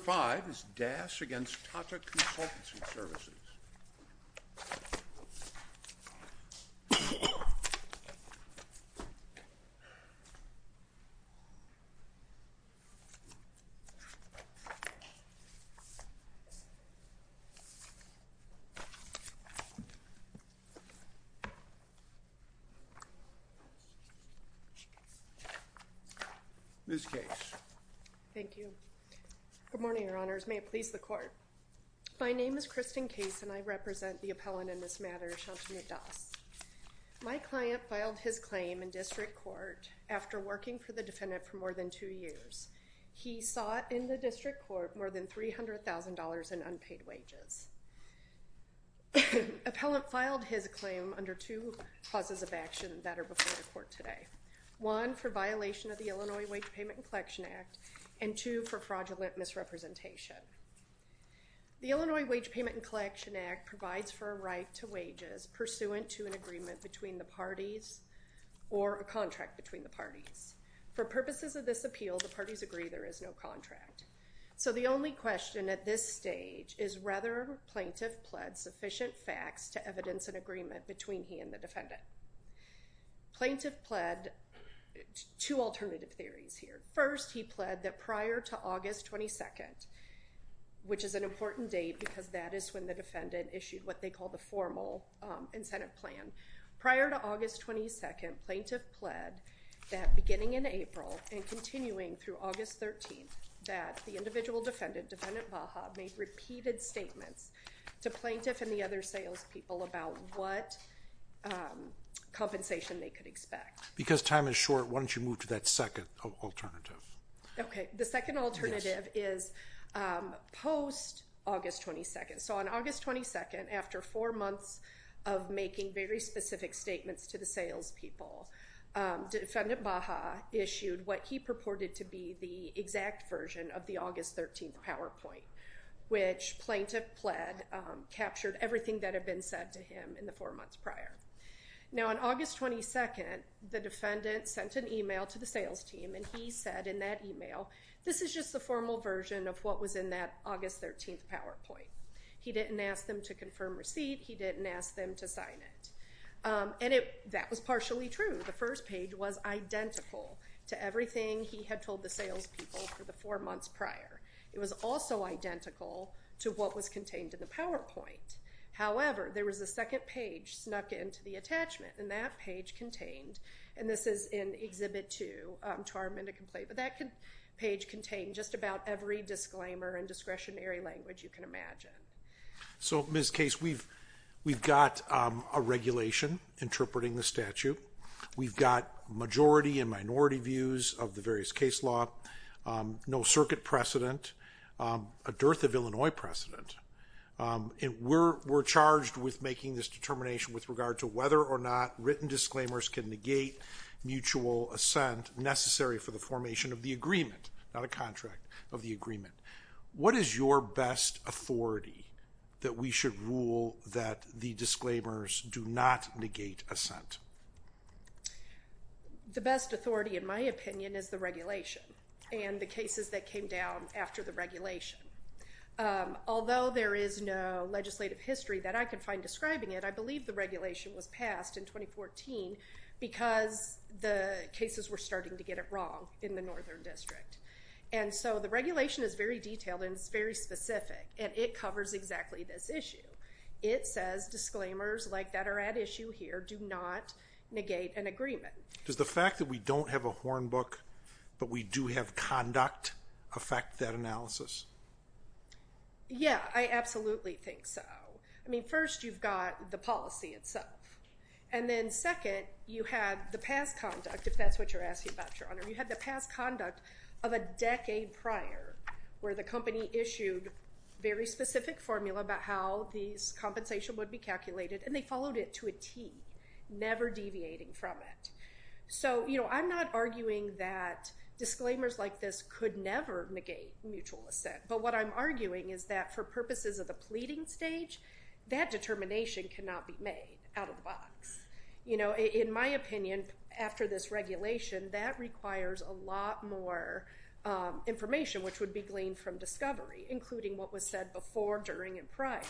Number 5 is Das v. Tata Consultancy Services Ms. Case Thank you. Good morning, your honors. May it please the court. My name is Kristen Case and I represent the appellant in this matter, Shantanu Das. My client filed his claim in district court after working for the defendant for more than two years. He sought in the district court more than $300,000 in unpaid wages. Appellant filed his claim under two causes of action that are before the court today. One, for violation of the Illinois Wage Payment and Collection Act, and two, for fraudulent misrepresentation. The Illinois Wage Payment and Collection Act provides for a right to wages pursuant to an agreement between the parties or a contract between the parties. For purposes of this appeal, the parties agree there is no contract. So the only question at this stage is whether Plaintiff pled sufficient facts to evidence an agreement between he and the defendant. Plaintiff pled two alternative theories here. First, he pled that prior to August 22, which is an important date because that is when the defendant issued what they call the formal incentive plan. Prior to August 22, Plaintiff pled that beginning in April and continuing through August 13, that the individual defendant, Defendant Baja, made repeated statements to Plaintiff and the other salespeople about what compensation they could expect. Because time is short, why don't you move to that second alternative? Okay, the second alternative is post-August 22. So on August 22, after four months of making very specific statements to the salespeople, Defendant Baja issued what he purported to be the exact version of the August 13 PowerPoint, which Plaintiff pled captured everything that had been said to him in the four months prior. Now on August 22, the defendant sent an email to the sales team and he said in that email, this is just the formal version of what was in that August 13 PowerPoint. He didn't ask them to confirm receipt, he didn't ask them to sign it. And that was partially true. The first page was identical to everything he had told the salespeople for the four months prior. It was also identical to what was contained in the PowerPoint. However, there was a second page snuck into the attachment, and that page contained, and this is in Exhibit 2, Charm and a Complaint, but that page contained just about every disclaimer and discretionary language you can imagine. So Ms. Case, we've got a regulation interpreting the statute. We've got majority and minority views of the various case law. No circuit precedent. A dearth of Illinois precedent. We're charged with making this determination with regard to whether or not written disclaimers can negate mutual assent necessary for the formation of the agreement, not a contract of the agreement. What is your best authority that we should rule that the disclaimers do not negate assent? The best authority, in my opinion, is the regulation and the cases that came down after the regulation. Although there is no legislative history that I can find describing it, I believe the regulation was passed in 2014 because the cases were starting to get it wrong in the Northern District. And so the regulation is very detailed and it's very specific, and it covers exactly this issue. It says disclaimers like that are at issue here do not negate an agreement. Does the fact that we don't have a horn book, but we do have conduct, affect that analysis? Yeah, I absolutely think so. I mean, first, you've got the policy itself. And then second, you have the past conduct, if that's what you're asking about, Your Honor. You have the past conduct of a decade prior where the company issued very specific formula about how these compensation would be calculated. And they followed it to a T, never deviating from it. So, you know, I'm not arguing that disclaimers like this could never negate mutual assent. But what I'm arguing is that for purposes of the pleading stage, that determination cannot be made out of the box. You know, in my opinion, after this regulation, that requires a lot more information, which would be gleaned from discovery, including what was said before, during, and prior.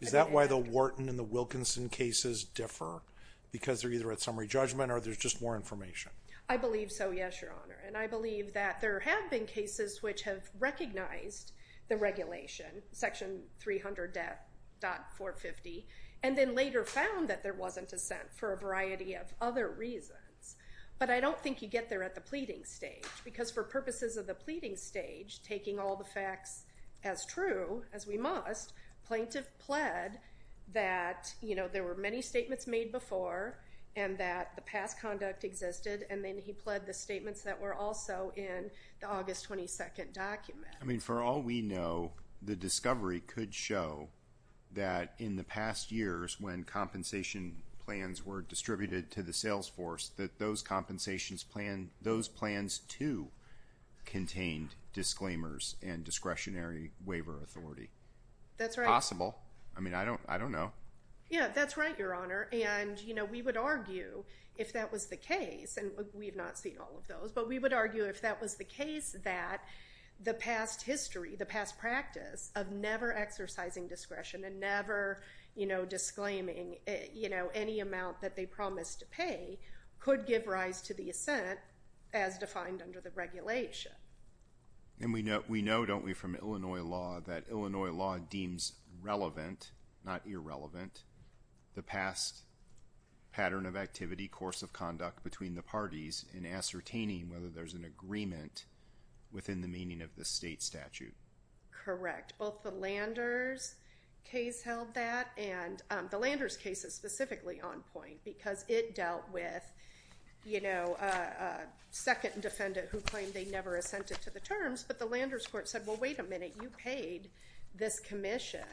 Is that why the Wharton and the Wilkinson cases differ? Because they're either at summary judgment or there's just more information? I believe so, yes, Your Honor. And I believe that there have been cases which have recognized the regulation, Section 300.450, and then later found that there wasn't assent for a variety of other reasons. But I don't think you get there at the pleading stage, because for purposes of the pleading stage, taking all the facts as true as we must, plaintiff pled that, you know, there were many statements made before, and that the past conduct existed, and then he pled the statements that were also in the August 22nd document. I mean, for all we know, the discovery could show that in the past years, when compensation plans were distributed to the sales force, that those plans, too, contained disclaimers and discretionary waiver authority. That's right. Possible. I mean, I don't know. Yeah, that's right, Your Honor. And, you know, we would argue, if that was the case, and we've not seen all of those, but we would argue if that was the case that the past history, the past practice of never exercising discretion and never, you know, disclaiming, you know, any amount that they promised to pay could give rise to the assent as defined under the regulation. And we know, don't we, from Illinois law that Illinois law deems relevant, not irrelevant, the past pattern of activity, course of conduct between the parties in ascertaining whether there's an agreement within the meaning of the state statute. Correct. Both the Landers case held that, and the Landers case is specifically on point because it dealt with, you know, a second defendant who claimed they never assented to the terms, but the Landers court said, well, wait a minute. You paid this commission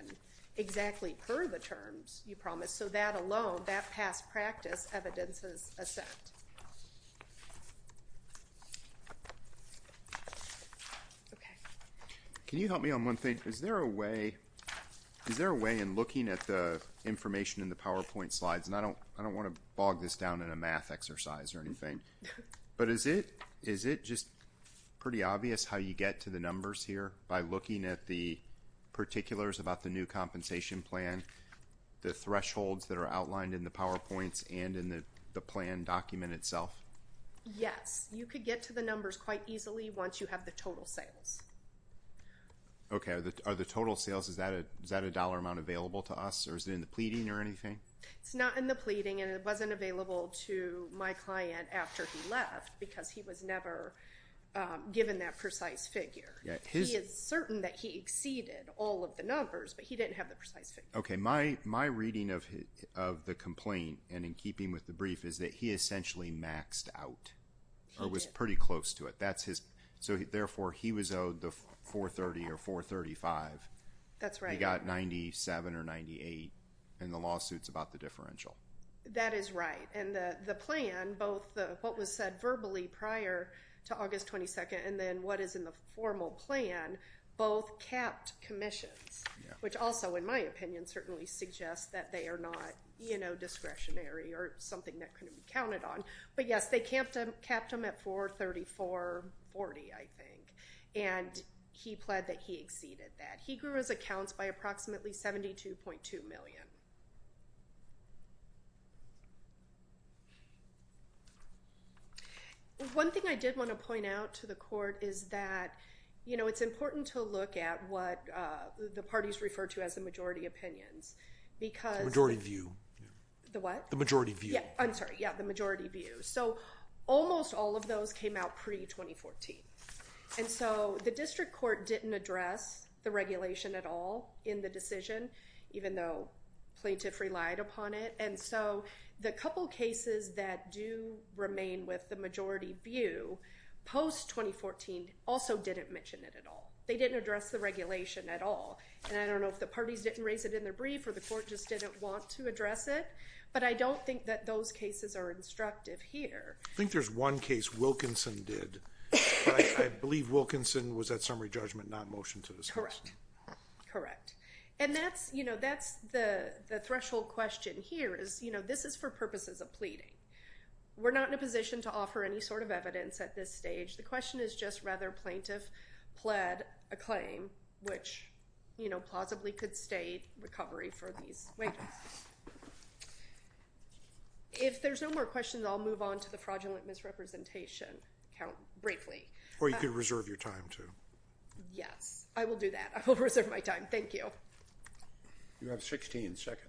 exactly per the terms you promised. So that alone, that past practice evidences assent. Can you help me on one thing? Is there a way in looking at the information in the PowerPoint slides, and I don't want to bog this down in a math exercise or anything, but is it just pretty obvious how you get to the numbers here by looking at the particulars about the new compensation plan, the thresholds that are outlined in the PowerPoints and in the plan document itself? Yes. You could get to the numbers quite easily once you have the total sales. Okay. Are the total sales, is that a dollar amount available to us, or is it in the pleading or anything? It's not in the pleading, and it wasn't available to my client after he left because he was never given that precise figure. He is certain that he exceeded all of the numbers, but he didn't have the precise figure. Okay. My reading of the complaint, and in keeping with the brief, is that he essentially maxed out or was pretty close to it. So therefore, he was owed the 430 or 435. That's right. And he only got 97 or 98 in the lawsuits about the differential. That is right, and the plan, both what was said verbally prior to August 22nd and then what is in the formal plan both capped commissions, which also, in my opinion, certainly suggests that they are not discretionary or something that couldn't be counted on. But, yes, they capped them at 434.40, I think, and he pled that he exceeded that. He grew his accounts by approximately 72.2 million. One thing I did want to point out to the court is that, you know, it's important to look at what the parties refer to as the majority opinions because— The majority view. The what? The majority view. I'm sorry. Yeah, the majority view. So almost all of those came out pre-2014, and so the district court didn't address the regulation at all in the decision, even though plaintiffs relied upon it, and so the couple cases that do remain with the majority view post-2014 also didn't mention it at all. They didn't address the regulation at all, and I don't know if the parties didn't raise it in their brief or the court just didn't want to address it, but I don't think that those cases are instructive here. I think there's one case Wilkinson did. I believe Wilkinson was at summary judgment, not motion to dismiss. Correct. Correct. And that's, you know, that's the threshold question here is, you know, this is for purposes of pleading. We're not in a position to offer any sort of evidence at this stage. The question is just rather plaintiff pled a claim, which, you know, plausibly could state recovery for these wages. If there's no more questions, I'll move on to the fraudulent misrepresentation count briefly. Or you could reserve your time, too. Yes, I will do that. I will reserve my time. Thank you. You have 16 seconds.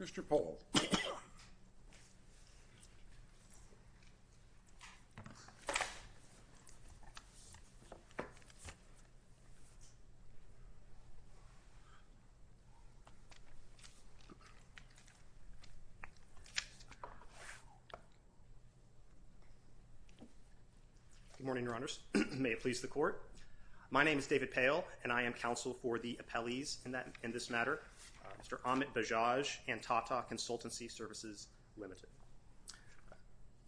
Mr. Pohl. Good morning, Your Honors. My name is David Poehl, and I am counsel for the appellees in this matter, Mr. Amit Bajaj and Tata Consultancy Services Limited.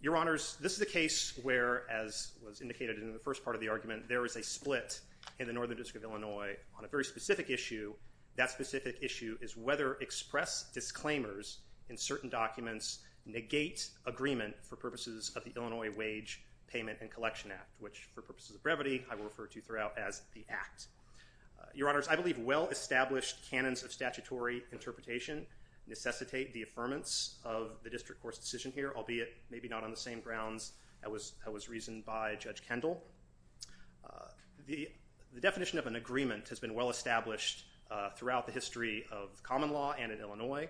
Your Honors, this is a case where, as was indicated in the first part of the argument, there is a split in the Northern District of Illinois on a very specific issue. That specific issue is whether express disclaimers in certain documents negate agreement for purposes of the Illinois Wage Payment and Collection Act, which, for purposes of brevity, I will refer to throughout as the Act. Your Honors, I believe well-established canons of statutory interpretation necessitate the affirmance of the district court's decision here, albeit maybe not on the same grounds that was reasoned by Judge Kendall. The definition of an agreement has been well-established throughout the history of common law and in Illinois.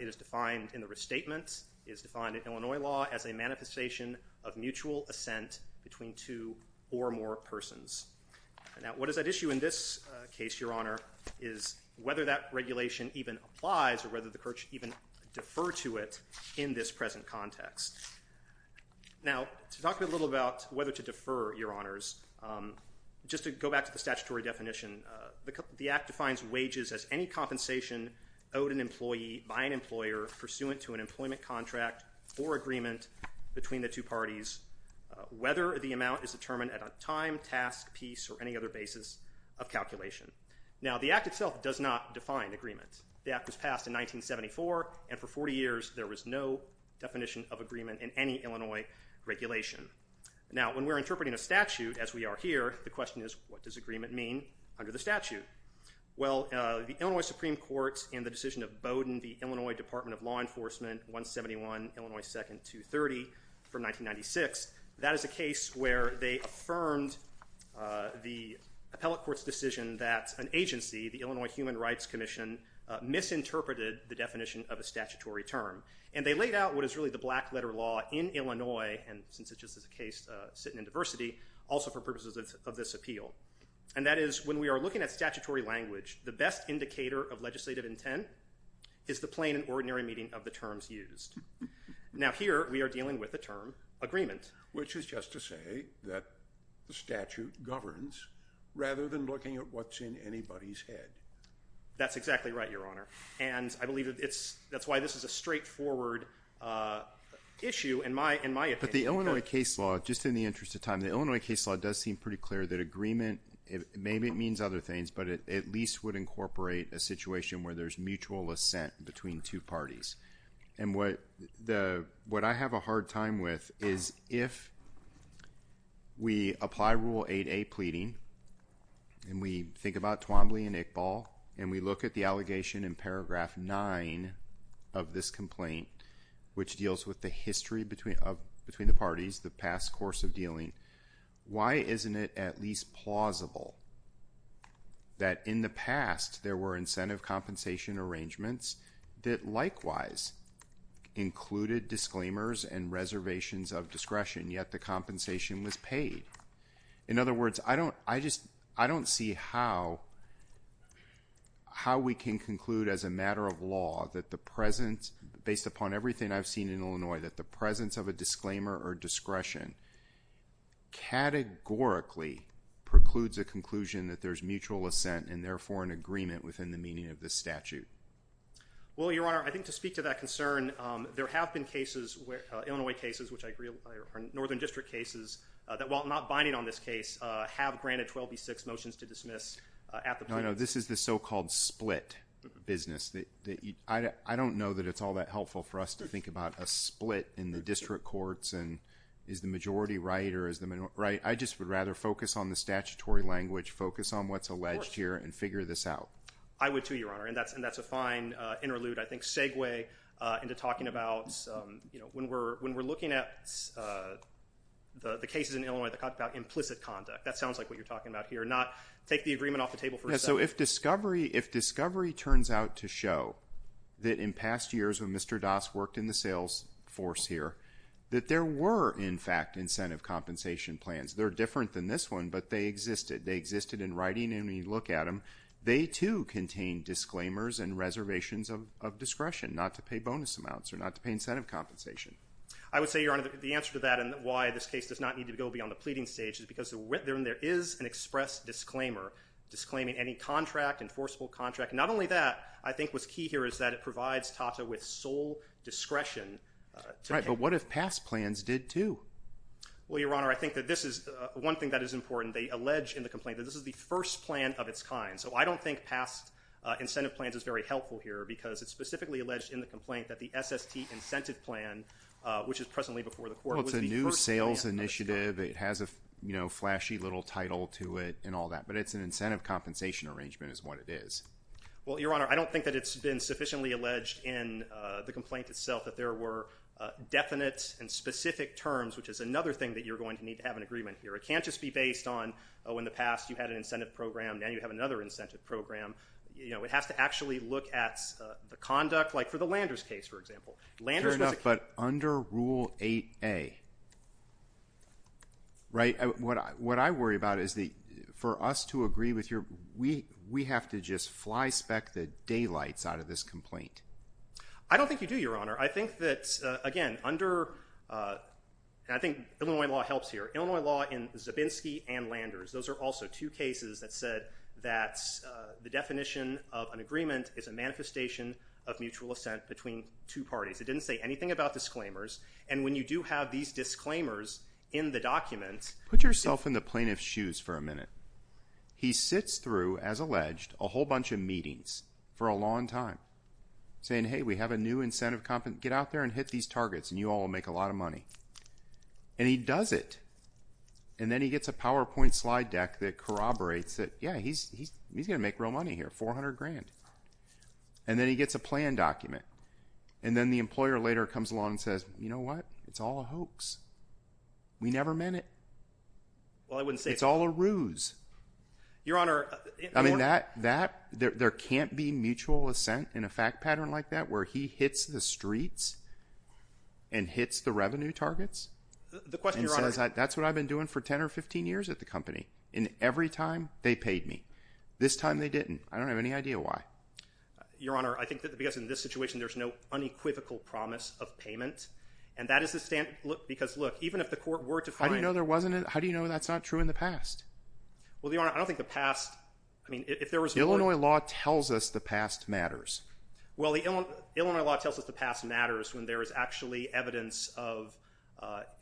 It is defined in the restatement. It is defined in Illinois law as a manifestation of mutual assent between two or more persons. Now, what is at issue in this case, Your Honor, is whether that regulation even applies or whether the court should even defer to it in this present context. Now, to talk a little about whether to defer, Your Honors, just to go back to the statutory definition, the Act defines wages as any compensation owed an employee by an employer pursuant to an employment contract or agreement between the two parties, whether the amount is determined at a time, task, piece, or any other basis of calculation. Now, the Act itself does not define agreement. The Act was passed in 1974, and for 40 years there was no definition of agreement in any Illinois regulation. Now, when we're interpreting a statute as we are here, the question is, what does agreement mean under the statute? Well, the Illinois Supreme Court in the decision of Bowdoin v. Illinois Department of Law Enforcement, 171 Illinois 2nd 230 from 1996, that is a case where they affirmed the appellate court's decision that an agency, the Illinois Human Rights Commission, misinterpreted the definition of a statutory term. And they laid out what is really the black letter law in Illinois, and since it's just a case sitting in diversity, also for purposes of this appeal. And that is, when we are looking at statutory language, the best indicator of legislative intent is the plain and ordinary meaning of the terms used. Now, here we are dealing with the term agreement. Which is just to say that the statute governs rather than looking at what's in anybody's head. That's exactly right, Your Honor. And I believe that's why this is a straightforward issue in my opinion. But the Illinois case law, just in the interest of time, the Illinois case law does seem pretty clear that agreement, maybe it means other things, but it at least would incorporate a situation where there's mutual assent between two parties. And what I have a hard time with is if we apply Rule 8a pleading, and we think about Twombly and Iqbal, and we look at the allegation in paragraph 9 of this complaint, which deals with the history between the parties, the past course of dealing, why isn't it at least plausible that in the past there were incentive compensation arrangements that likewise included disclaimers and reservations of discretion, yet the compensation was paid? In other words, I don't see how we can conclude as a matter of law that the presence, based upon everything I've seen in Illinois, that the presence of a disclaimer or discretion categorically precludes a conclusion that there's mutual assent and therefore an agreement within the meaning of this statute. Well, Your Honor, I think to speak to that concern, there have been cases, Illinois cases, which I agree are Northern District cases, that while not binding on this case, have granted 12b-6 motions to dismiss at the point. This is the so-called split business. I don't know that it's all that helpful for us to think about a split in the district courts and is the majority right or is the minority right. I just would rather focus on the statutory language, focus on what's alleged here, and figure this out. I would too, Your Honor, and that's a fine interlude, I think, segue into talking about when we're looking at the cases in Illinois that talk about implicit conduct. That sounds like what you're talking about here, not take the agreement off the table for a second. So if discovery turns out to show that in past years when Mr. Das worked in the sales force here, that there were, in fact, incentive compensation plans. They're different than this one, but they existed. They existed in writing, and when you look at them, they too contain disclaimers and reservations of discretion, not to pay bonus amounts or not to pay incentive compensation. I would say, Your Honor, the answer to that and why this case does not need to go beyond the pleading stage is because there is an express disclaimer disclaiming any contract, enforceable contract. Not only that, I think what's key here is that it provides Tata with sole discretion. Right, but what if past plans did too? Well, Your Honor, I think that this is one thing that is important. They allege in the complaint that this is the first plan of its kind. So I don't think past incentive plans is very helpful here because it's specifically alleged in the complaint that the SST incentive plan, which is presently before the court, was the first plan of its kind. It's not exclusive. It has a flashy little title to it and all that, but it's an incentive compensation arrangement is what it is. Well, Your Honor, I don't think that it's been sufficiently alleged in the complaint itself that there were definite and specific terms, which is another thing that you're going to need to have an agreement here. It can't just be based on, oh, in the past you had an incentive program. Now you have another incentive program. It has to actually look at the conduct, like for the Landers case, for example. Fair enough, but under Rule 8A, right, what I worry about is for us to agree with your, we have to just flyspeck the daylights out of this complaint. I don't think you do, Your Honor. I think that, again, under, and I think Illinois law helps here, Illinois law in Zabinski and Landers, those are also two cases that said that the definition of an agreement is a manifestation of mutual assent between two parties. It didn't say anything about disclaimers, and when you do have these disclaimers in the document… Put yourself in the plaintiff's shoes for a minute. He sits through, as alleged, a whole bunch of meetings for a long time saying, hey, we have a new incentive, get out there and hit these targets and you all will make a lot of money. And he does it, and then he gets a PowerPoint slide deck that corroborates it. Yeah, he's going to make real money here, $400,000. And then he gets a plan document, and then the employer later comes along and says, you know what, it's all a hoax. We never meant it. Well, I wouldn't say… It's all a ruse. Your Honor… I mean, that, there can't be mutual assent in a fact pattern like that where he hits the streets and hits the revenue targets. The question, Your Honor… That's what I've been doing for 10 or 15 years at the company, and every time they paid me. This time they didn't. I don't have any idea why. Your Honor, I think that because in this situation there's no unequivocal promise of payment, and that is the stand, because look, even if the court were to find… How do you know there wasn't, how do you know that's not true in the past? Well, Your Honor, I don't think the past, I mean, if there was more… Illinois law tells us the past matters. Well, Illinois law tells us the past matters when there is actually evidence of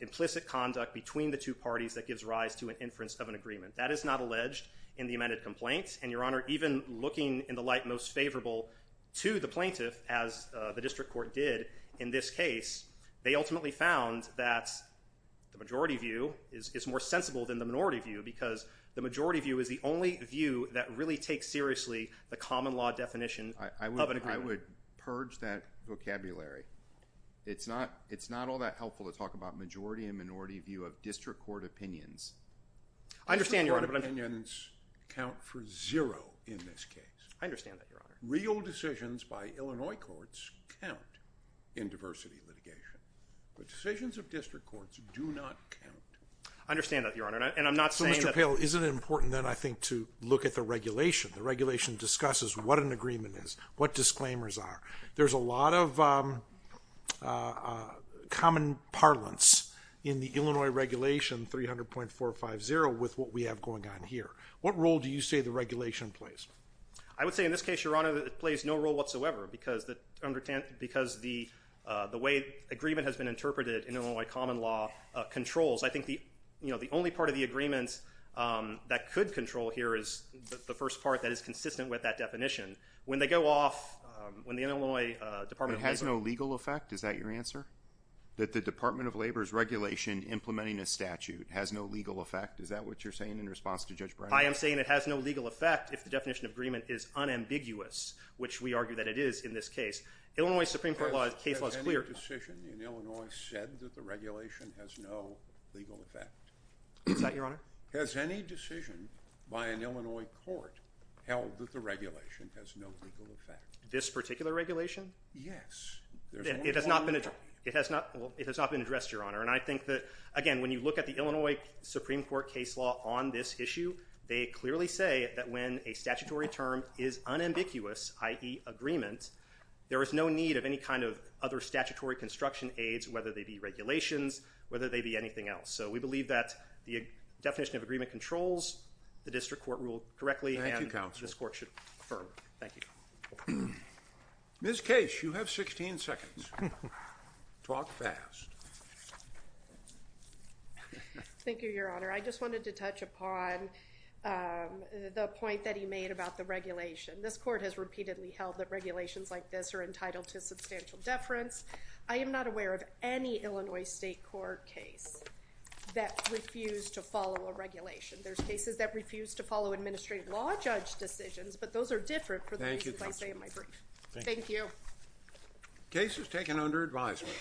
implicit conduct between the two parties that gives rise to an inference of an agreement. That is not alleged in the amended complaint. And, Your Honor, even looking in the light most favorable to the plaintiff, as the district court did in this case, they ultimately found that the majority view is more sensible than the minority view, because the majority view is the only view that really takes seriously the common law definition… I would purge that vocabulary. It's not all that helpful to talk about majority and minority view of district court opinions. I understand, Your Honor, but I'm… District court opinions count for zero in this case. I understand that, Your Honor. Real decisions by Illinois courts count in diversity litigation, but decisions of district courts do not count. I understand that, Your Honor, and I'm not saying that… Well, isn't it important then, I think, to look at the regulation? The regulation discusses what an agreement is, what disclaimers are. There's a lot of common parlance in the Illinois regulation 300.450 with what we have going on here. What role do you say the regulation plays? I would say, in this case, Your Honor, that it plays no role whatsoever, because the way agreement has been interpreted in Illinois common law controls. I think the only part of the agreement that could control here is the first part that is consistent with that definition. When they go off, when the Illinois Department of Labor… It has no legal effect? Is that your answer? That the Department of Labor's regulation implementing a statute has no legal effect? Is that what you're saying in response to Judge Brown? I am saying it has no legal effect if the definition of agreement is unambiguous, which we argue that it is in this case. Has any decision in Illinois said that the regulation has no legal effect? Is that your honor? Has any decision by an Illinois court held that the regulation has no legal effect? This particular regulation? Yes. It has not been addressed, Your Honor. And I think that, again, when you look at the Illinois Supreme Court case law on this issue, they clearly say that when a statutory term is unambiguous, i.e. agreement, there is no need of any kind of other statutory construction aids, whether they be regulations, whether they be anything else. So we believe that the definition of agreement controls the district court rule correctly. Thank you, counsel. And this court should affirm. Thank you. Ms. Case, you have 16 seconds. Talk fast. Thank you, Your Honor. I just wanted to touch upon the point that he made about the regulation. This court has repeatedly held that regulations like this are entitled to substantial deference. I am not aware of any Illinois state court case that refused to follow a regulation. There's cases that refused to follow administrative law judge decisions, but those are different for the reasons I say in my brief. Thank you. Case is taken under advisement.